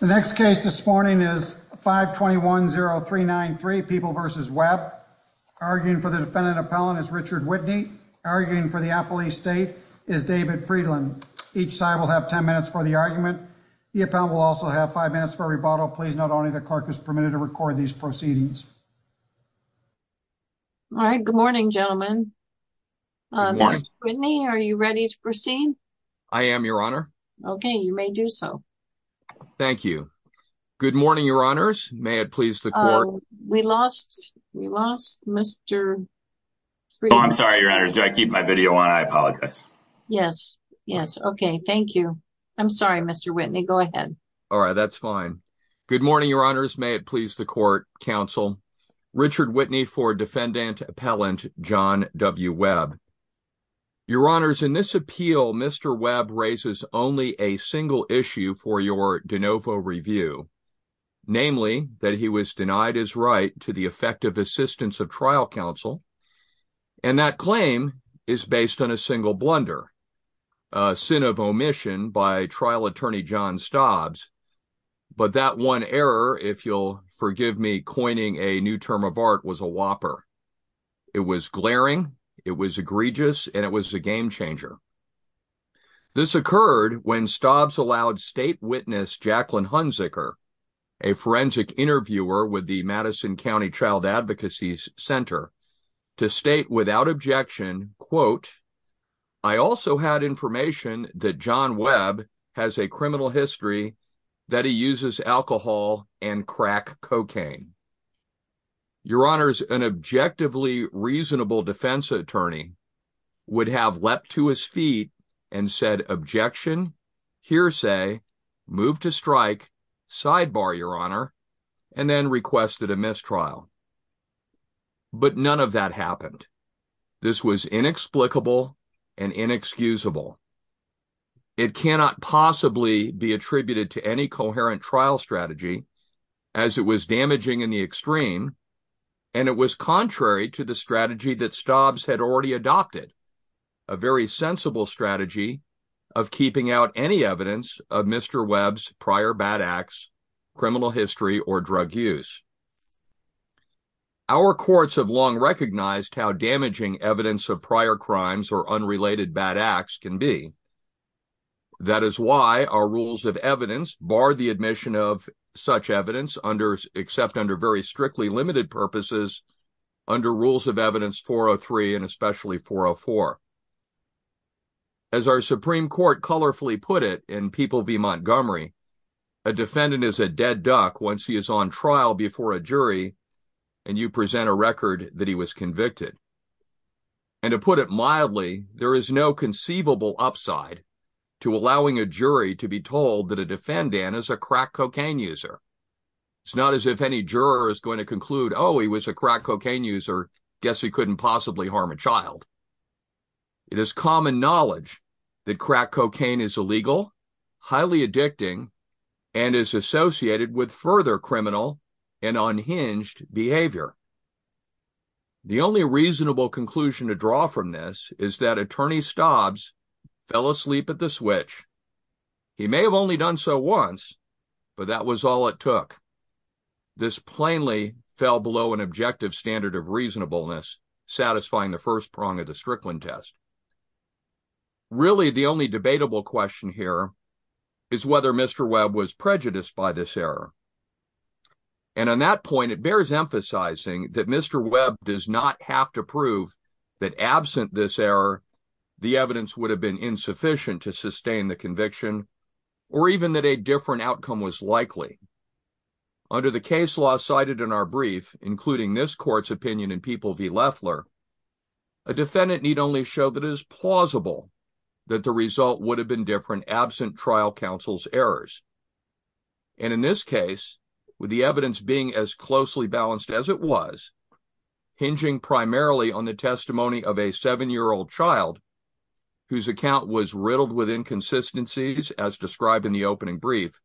The next case this morning is 5210393 People v. Webb. Arguing for the defendant appellant is Richard Whitney. Arguing for the appellee state is David Friedland. Each side will have 10 minutes for the argument. The appellant will also have five minutes for rebuttal. Please note only the clerk is permitted to record these proceedings. All right, good morning gentlemen. Good morning. Mr. Whitney, are you ready to so? Thank you. Good morning, your honors. May it please the court. We lost, we lost Mr. I'm sorry, your honor. Do I keep my video on? I apologize. Yes, yes. Okay, thank you. I'm sorry, Mr. Whitney. Go ahead. All right, that's fine. Good morning, your honors. May it please the court counsel. Richard Whitney for defendant appellant John W. Webb. Your honors, in this de novo review, namely that he was denied his right to the effective assistance of trial counsel, and that claim is based on a single blunder, a sin of omission by trial attorney John Stobbs, but that one error, if you'll forgive me, coining a new term of art was a whopper. It was glaring, it was egregious, and it was a game changer. This occurred when Stobbs allowed state witness Jacqueline Hunziker, a forensic interviewer with the Madison County Child Advocacy Center, to state without objection, quote, I also had information that John Webb has a criminal history that he uses alcohol and crack cocaine. Your honors, an objectively reasonable defense attorney would have leapt to his feet and said objection, hearsay, move to strike, sidebar, your honor, and then requested a mistrial. But none of that happened. This was inexplicable and inexcusable. It cannot possibly be attributed to any coherent trial strategy, as it was damaging in the extreme, and it was contrary to the strategy that Stobbs had already adopted, a very sensible strategy of keeping out any evidence of Mr. Webb's prior bad acts, criminal history, or drug use. Our courts have long recognized how damaging evidence of prior crimes or unrelated bad acts can be. That is why our evidence barred the admission of such evidence, except under very strictly limited purposes, under Rules of Evidence 403 and especially 404. As our Supreme Court colorfully put it in People v. Montgomery, a defendant is a dead duck once he is on trial before a jury, and you present a record that he was convicted. And to put it mildly, there is no conceivable upside to allowing a jury to be told that a defendant is a crack cocaine user. It's not as if any juror is going to conclude, oh, he was a crack cocaine user, guess he couldn't possibly harm a child. It is common knowledge that crack cocaine is illegal, highly addicting, and is associated with further criminal and unhinged behavior. The only reasonable conclusion to draw from this is that Attorney Stobbs fell asleep at the switch. He may have only done so once, but that was all it took. This plainly fell below an objective standard of reasonableness, satisfying the first prong of the Strickland test. Really, the only debatable question here is whether Mr. Webb was prejudiced by this error. And on that point, it bears emphasizing that Mr. Webb was prejudiced by the fact that absent this error, the evidence would have been insufficient to sustain the conviction, or even that a different outcome was likely. Under the case law cited in our brief, including this court's opinion in People v. Loeffler, a defendant need only show that it is plausible that the result would have been different absent trial counsel's errors. And in this case, with the evidence being as closely balanced as it was, hinging primarily on the testimony of a seven-year-old child, whose account was riddled with inconsistencies as described in the opening brief,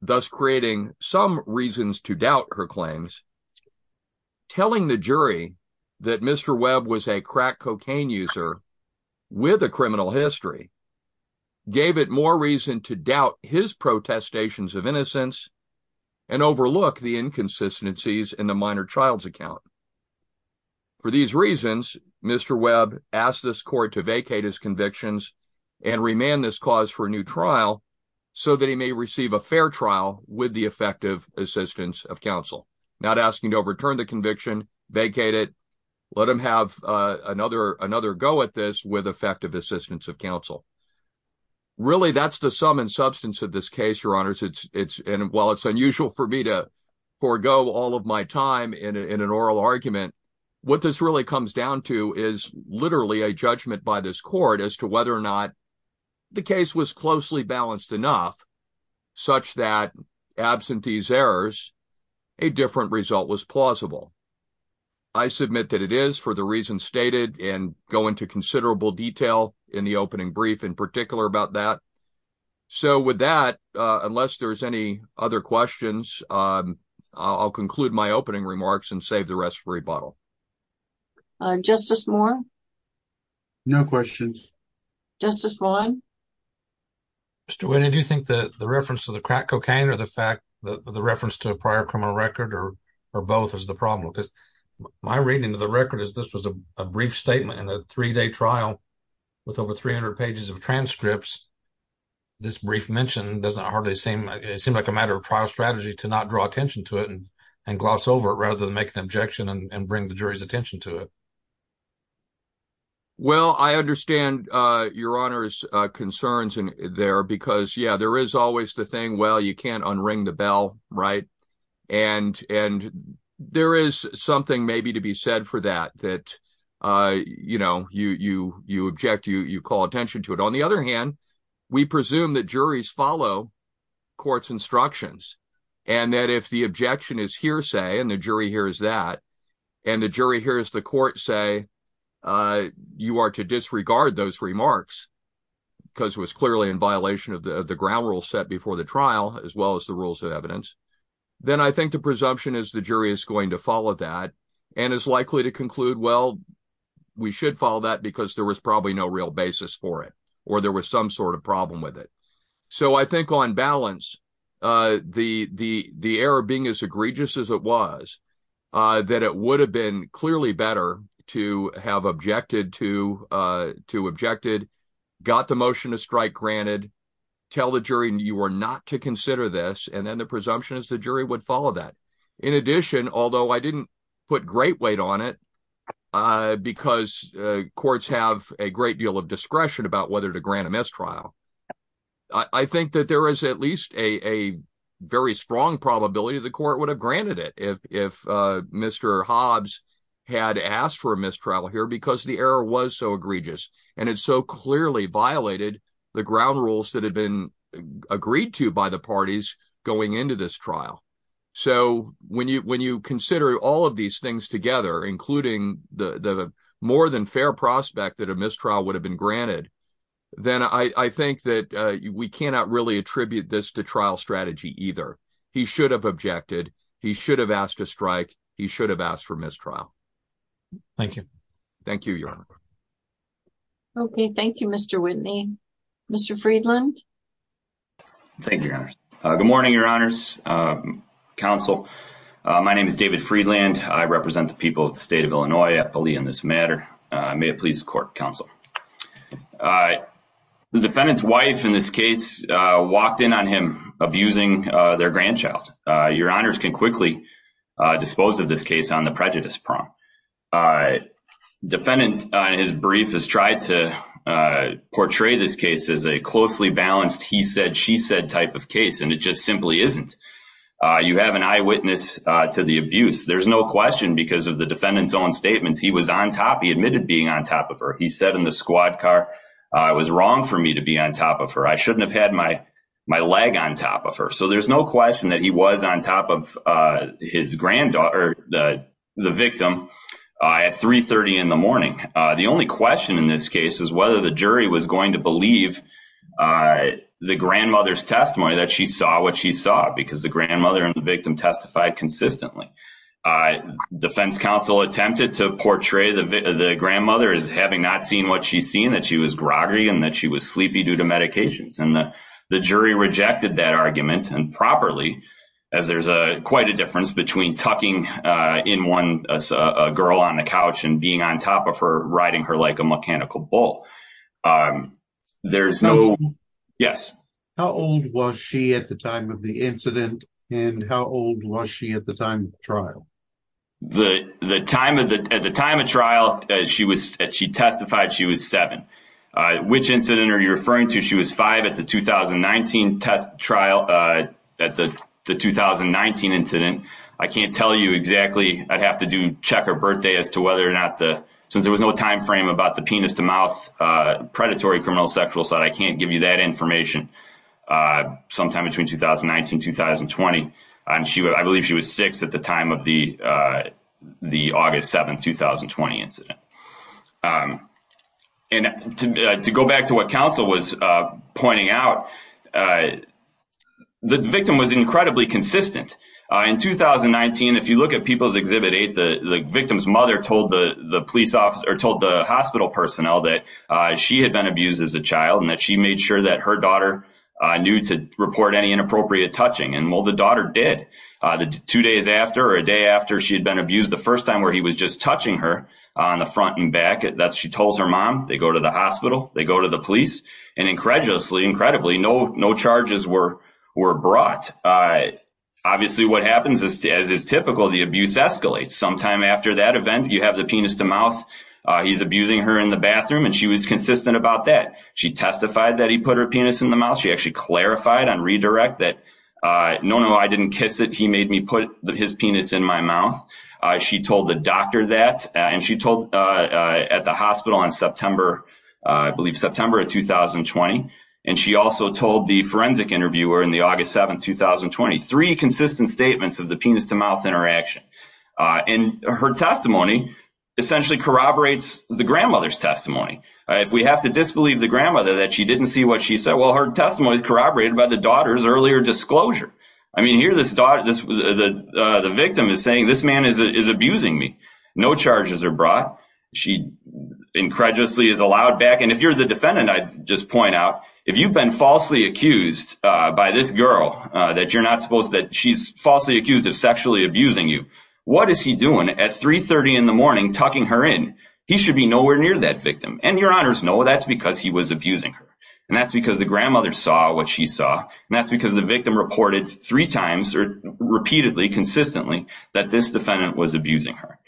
thus creating some reasons to doubt her claims, telling the jury that Mr. Webb was a crack cocaine user with a criminal history gave it more reason to doubt his protestations of innocence and overlook the inconsistencies in the minor child's account. For these reasons, Mr. Webb asked this court to vacate his convictions and remand this cause for a new trial so that he may receive a fair trial with the effective assistance of counsel, not asking to overturn the conviction, vacate it, let him have another go at this with effective assistance of counsel. Really, that's the sum and substance of this case, Your Honors. While it's unusual for me to forego all of my time in an oral argument, what this really comes down to is literally a judgment by this court as to whether or not the case was closely balanced enough such that, absent these errors, a different result was plausible. I submit that it is, the reason stated, and go into considerable detail in the opening brief in particular about that. So with that, unless there's any other questions, I'll conclude my opening remarks and save the rest for rebuttal. Justice Moore? No questions. Justice Ryan? Mr. Wynne, do you think that the reference to the crack cocaine or the fact that the reference to a prior criminal record or both is the problem? Because my reading of the record is this was a brief statement in a three-day trial with over 300 pages of transcripts. This brief mention doesn't hardly seem like a matter of trial strategy to not draw attention to it and gloss over it rather than make an objection and bring the jury's attention to it. Well, I understand Your Honor's concerns there because, yeah, there is always the thing, well, you can't unring the bell, right? And there is something maybe to be said for that, that, you know, you object, you call attention to it. On the other hand, we presume that juries follow court's instructions and that if the objection is hearsay and the jury hears that and the jury hears the court say you are to disregard those ground rules set before the trial as well as the rules of evidence, then I think the presumption is the jury is going to follow that and is likely to conclude, well, we should follow that because there was probably no real basis for it or there was some sort of problem with it. So I think on balance, the error being as egregious as it was, that it would have been clearly better to have objected to objected, got the motion to strike granted, tell the jury you were not to consider this, and then the presumption is the jury would follow that. In addition, although I didn't put great weight on it because courts have a great deal of discretion about whether to grant a mistrial, I think that there is at least a very strong probability the court would have granted it if Mr. Hobbs had asked for a mistrial here because the error was so egregious and it so clearly violated the ground rules that had been agreed to by the parties going into this trial. So when you consider all of these things together, including the more than fair prospect that a mistrial would have been granted, then I think that we cannot really attribute this to trial to strike. He should have asked for mistrial. Thank you. Thank you, Your Honor. Okay. Thank you, Mr. Whitney. Mr. Friedland. Thank you, Your Honor. Good morning, Your Honors. Counsel, my name is David Friedland. I represent the people of the state of Illinois at police in this matter. May it please the court, Counsel. The defendant's wife in this case walked in on him abusing their grandchild. Your Honors can quickly dispose of this case on the prejudice prong. Defendant, in his brief, has tried to portray this case as a closely balanced he said, she said type of case and it just simply isn't. You have an eyewitness to the abuse. There's no question because of the defendant's own statements. He was on top. He admitted being on top of her. He said in the squad car, it was wrong for me to be on top of her. I shouldn't have had my leg on top of her. So there's no question that he was on top of his granddaughter, the victim, at 3.30 in the morning. The only question in this case is whether the jury was going to believe the grandmother's testimony that she saw what she saw because the grandmother and the victim testified consistently. Defense counsel attempted to portray the grandmother as having not seen what that she was groggy and that she was sleepy due to medications and the jury rejected that argument and properly as there's a quite a difference between talking in one as a girl on the couch and being on top of her riding her like a mechanical bull. There's no yes. How old was she at the time of the incident and how old was she at the time of the trial? The time of the time of trial, she testified she was seven. Which incident are you referring to? She was five at the the 2019 incident. I can't tell you exactly. I'd have to do check her birthday as to whether or not since there was no time frame about the penis to mouth predatory criminal sexual assault. I can't give you that information sometime between 2019-2020. I believe she was six at the time of the August 7, 2020 incident. To go back to what counsel was pointing out, the victim was incredibly consistent. In 2019, if you look at People's Exhibit 8, the victim's mother told the hospital personnel that she had been abused as a child and that she made sure that her daughter knew to report any inappropriate touching. The daughter did. The two days after or a day after she had been abused, the first time where he was just touching her on the front and back, she told her mom. They go to the hospital. They go to the police. Incredulously, no charges were brought. Obviously, what happens as is typical, the abuse escalates. Sometime after that event, you have the penis to mouth. He's abusing her in the bathroom and she was consistent about that. She testified that he put her penis in the mouth. She actually clarified on redirect that, no, no, I didn't kiss it. He made me put his penis in my mouth. She told the doctor that and she told at the hospital in September, I believe September of 2020. She also told the forensic interviewer in the August 7, 2020, three consistent statements of the penis to mouth interaction. Her testimony essentially corroborates the grandmother's testimony. If we have to disbelieve the grandmother that she didn't see what she said, her testimony is corroborated by the daughter's earlier disclosure. Here, the victim is saying, this man is abusing me. No charges are brought. She incredulously is allowed back. If you're the defendant, I just point out, if you've been falsely accused by this girl that she's falsely accused of sexually abusing you, what is he doing at 3.30 in the morning tucking her in? He should be nowhere near that victim. Your honors know that's because he was abusing her. That's because the grandmother saw what she saw. And that's because the victim reported three times or repeatedly, consistently that this defendant was abusing her.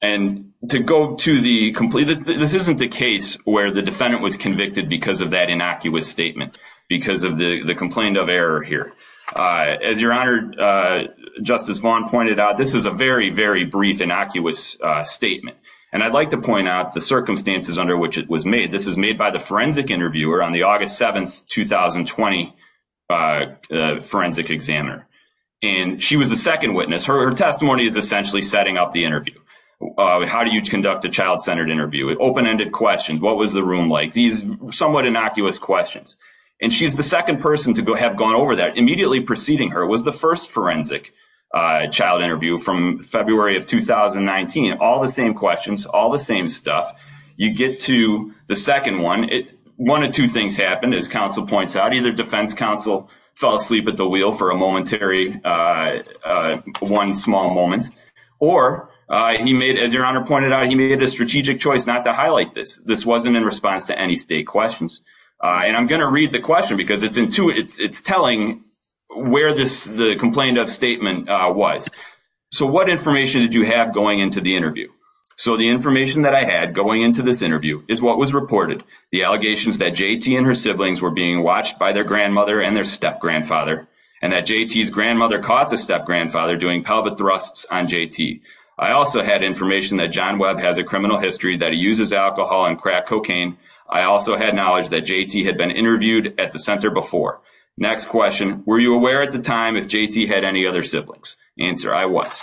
And to go to the complete, this isn't the case where the defendant was convicted because of that innocuous statement, because of the complaint of error here. As your honor, Justice Vaughn pointed out, this is a very, very brief, innocuous statement. And I'd like to point out the circumstances under which it was made. This is made by the forensic interviewer on the August 7th, 2020 forensic examiner. And she was the second witness. Her testimony is essentially setting up the interview. How do you conduct a child-centered interview? Open-ended questions. What was the room like? These somewhat innocuous questions. And she's the second person to have gone over that. Immediately preceding her was the first forensic child interview from February of 2019. All the same questions, all the same stuff. You get to the second one. One of two things happened, as counsel points out. Either defense counsel fell asleep at the wheel for a momentary, one small moment. Or he made, as your honor pointed out, he made a strategic choice not to highlight this. This wasn't in response to any state questions. And I'm going to read the question because it's telling where the complaint of statement was. So what information did you have going into the interview? So the information that I had going into this interview is what was reported. The allegations that J.T. and her siblings were being watched by their grandmother and their step-grandfather. And that J.T.'s grandmother caught the step-grandfather doing pelvic thrusts on J.T. I also had information that John Webb has a criminal history that he uses alcohol and crack cocaine. I also had knowledge that J.T. had been interviewed at the center before. Next question, were you aware at the time if J.T. had any other siblings? Answer, I was.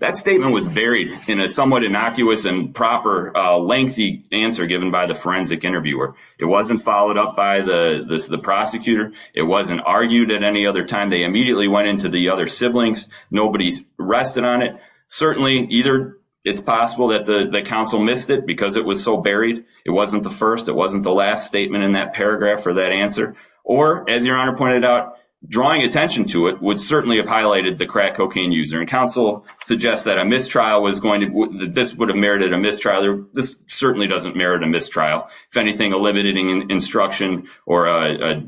That statement was buried in a somewhat innocuous and proper lengthy answer given by the forensic interviewer. It wasn't followed up by the prosecutor. It wasn't argued at any other time. They immediately went into the other siblings. Nobody's rested on it. Certainly, either it's possible that the counsel missed it because it was so buried, it wasn't the first, it wasn't the last statement in that paragraph for that answer. Or as your honor pointed out, drawing attention to it would certainly have highlighted the crack cocaine user. And counsel suggests that a mistrial was going to, that this would have merited a mistrial. This certainly doesn't merit a mistrial. If anything, a limiting instruction or a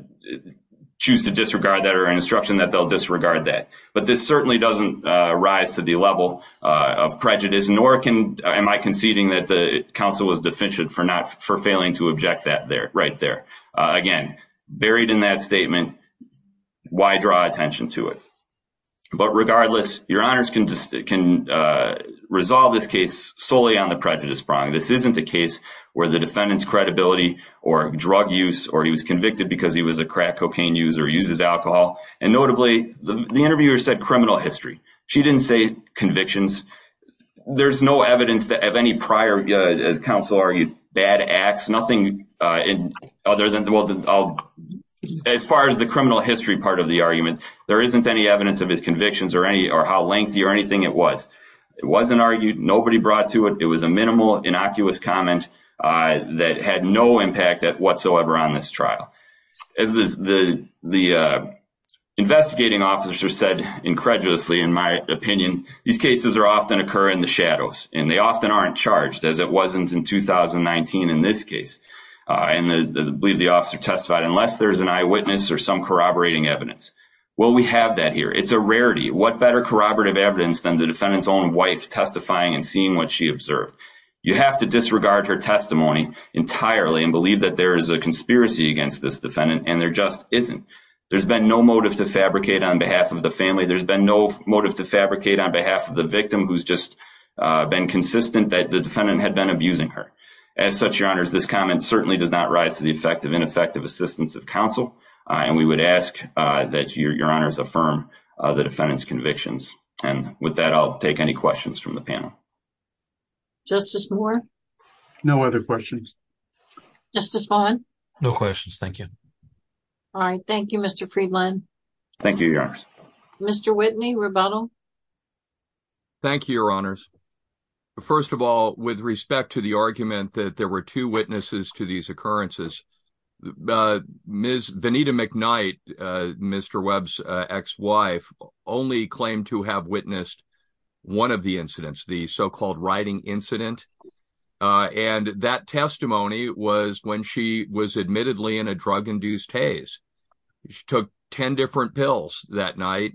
choose to disregard that or an instruction that they'll disregard that. But this certainly doesn't rise to the level of prejudice, nor can, am I conceding that the counsel was deficient for failing to object that right there. Again, buried in that statement, why draw attention to it? But regardless, your honors can resolve this case solely on the prejudice prong. This isn't a case where the defendant's credibility or drug use or he was convicted because he was a crack cocaine user uses alcohol. And notably, the interviewer said criminal history. She didn't say convictions. There's no evidence that have any prior, as counsel argued, bad acts, nothing other than, as far as the criminal history part of the argument, there isn't any evidence of his convictions or any or how lengthy or anything it was. It wasn't argued, nobody brought to it. It was a minimal, innocuous comment that had no impact whatsoever on this trial. As the investigating officer said incredulously, in my opinion, these cases are often occur in the shadows and they often aren't charged as it wasn't in 2019. In this case, I believe the officer testified unless there's an eyewitness or some corroborating evidence. Well, we have that here. It's a rarity. What better corroborative evidence than the defendant's own wife testifying and seeing what she observed. You have to disregard her testimony entirely and believe that there is a conspiracy against this defendant and there just isn't. There's been no motive to fabricate on behalf of the family. There's been no motive to fabricate on behalf of the victim who's just been consistent that the defendant had been abusing her. As such, your honors, this comment certainly does not rise to the effect of ineffective assistance of counsel and we would ask that your honors affirm the defendant's convictions. And with that, I'll take any questions from the panel. Justice Moore? No other questions. Justice Vaughn? No questions, thank you. All right, thank you, Mr. Friedland. Thank you, your honors. Mr. Whitney, rebuttal. Thank you, your honors. First of all, with respect to the argument that there were two witnesses to these occurrences, Ms. Vanita McKnight, Mr. Webb's ex-wife, only claimed to have witnessed one of the incidents, the so-called riding incident. And that testimony was when she was admittedly in a drug-induced haze. She took 10 different pills that night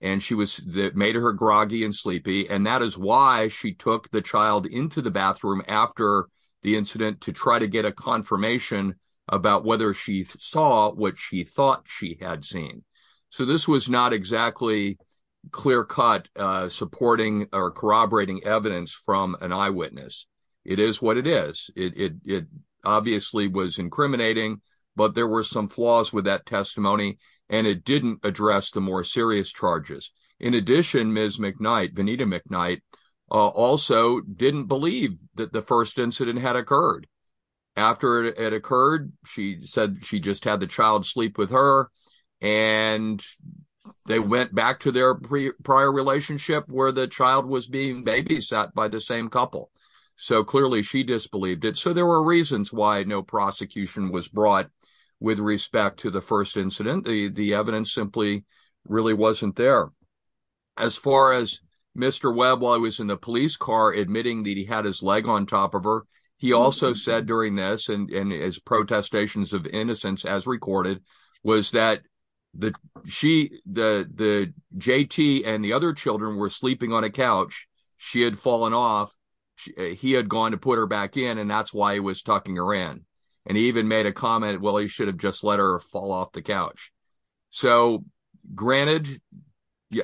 and that made her groggy and sleepy. And that is why she took the child into the bathroom after the incident to try to get a confirmation about whether she saw what she thought she had seen. So this was not exactly clear-cut supporting or corroborating evidence from an eyewitness. It is what it is. It obviously was testimony, and it didn't address the more serious charges. In addition, Ms. McKnight, Vanita McKnight, also didn't believe that the first incident had occurred. After it occurred, she said she just had the child sleep with her and they went back to their prior relationship where the child was being babysat by the same couple. So clearly she disbelieved it. So there were reasons why no prosecution was brought with respect to the incident. The evidence simply really wasn't there. As far as Mr. Webb, while he was in the police car admitting that he had his leg on top of her, he also said during this and his protestations of innocence, as recorded, was that the JT and the other children were sleeping on a couch. She had fallen off. He had gone to put her back in, and that's why he was tucking her in. And he even made a comment, well, he should have just let her fall off the couch. So granted,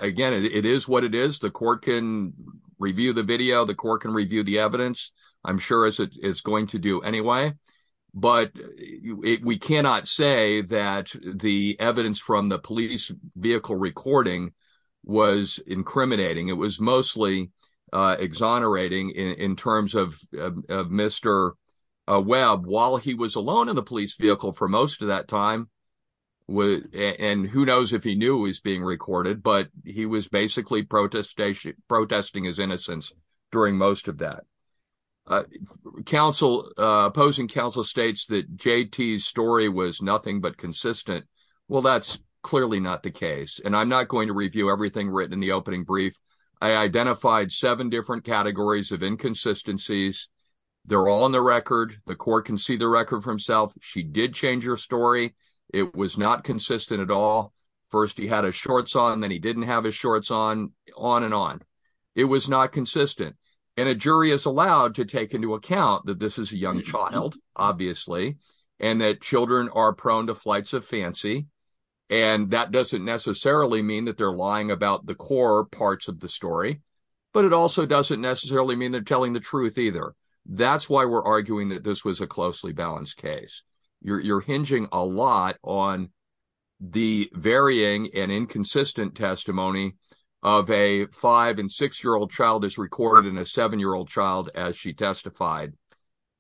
again, it is what it is. The court can review the video. The court can review the evidence. I'm sure as it is going to do anyway. But we cannot say that the evidence from the police vehicle recording was incriminating. It was mostly exonerating in terms of Mr. Webb, while he was alone in the police vehicle for most of that time. And who knows if he knew he was being recorded, but he was basically protesting his innocence during most of that. Opposing counsel states that JT's story was nothing but consistent. Well, that's clearly not the case. And I'm not going to review everything written in the opening brief. I identified seven different categories of inconsistencies. They're all in the record. The court can see the record for himself. She did change her story. It was not consistent at all. First, he had his shorts on, then he didn't have his shorts on, on and on. It was not consistent. And a jury is allowed to take into account that this is a young child, obviously, and that children are prone to flights of fancy. And that doesn't necessarily mean that they're lying about the core parts of the story. But it also doesn't necessarily mean they're telling the truth either. That's why we're arguing that this was a closely balanced case. You're hinging a lot on the varying and inconsistent testimony of a five and six-year-old child is recorded in a seven-year-old child as she testified.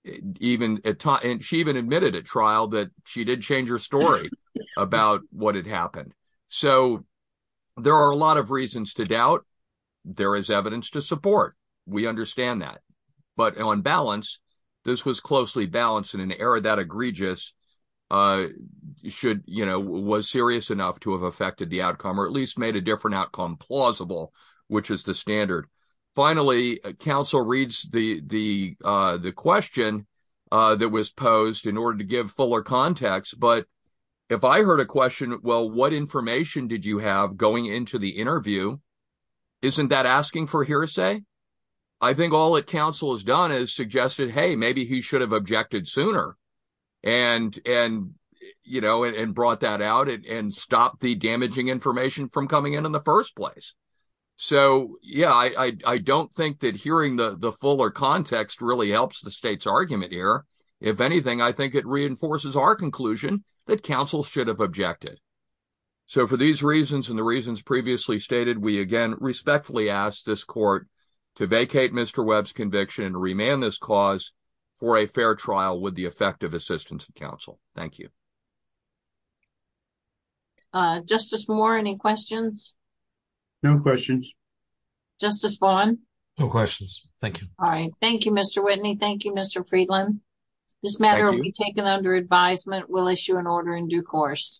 She even admitted at trial that she did change her story about what had happened. So there are a lot of reasons to doubt. There is evidence to support. We understand that. But on balance, this was closely balanced in an era that egregious should, you know, was serious enough to have affected the outcome or at least made a different outcome plausible, which is the standard. Finally, counsel reads the question that was posed in If I heard a question, well, what information did you have going into the interview? Isn't that asking for hearsay? I think all that counsel has done is suggested, hey, maybe he should have objected sooner and, you know, and brought that out and stopped the damaging information from coming in in the first place. So, yeah, I don't think that hearing the fuller context really helps the state's argument here. If anything, I think it reinforces our conclusion counsel should have objected. So for these reasons and the reasons previously stated, we again respectfully ask this court to vacate Mr. Webb's conviction and remand this cause for a fair trial with the effective assistance of counsel. Thank you. Justice Moore, any questions? No questions. Justice Vaughn? No questions. Thank you. All right. Thank you, Mr. Whitney. Thank you, Mr. Friedland. This matter will be taken under advisement. We'll issue an order in due course.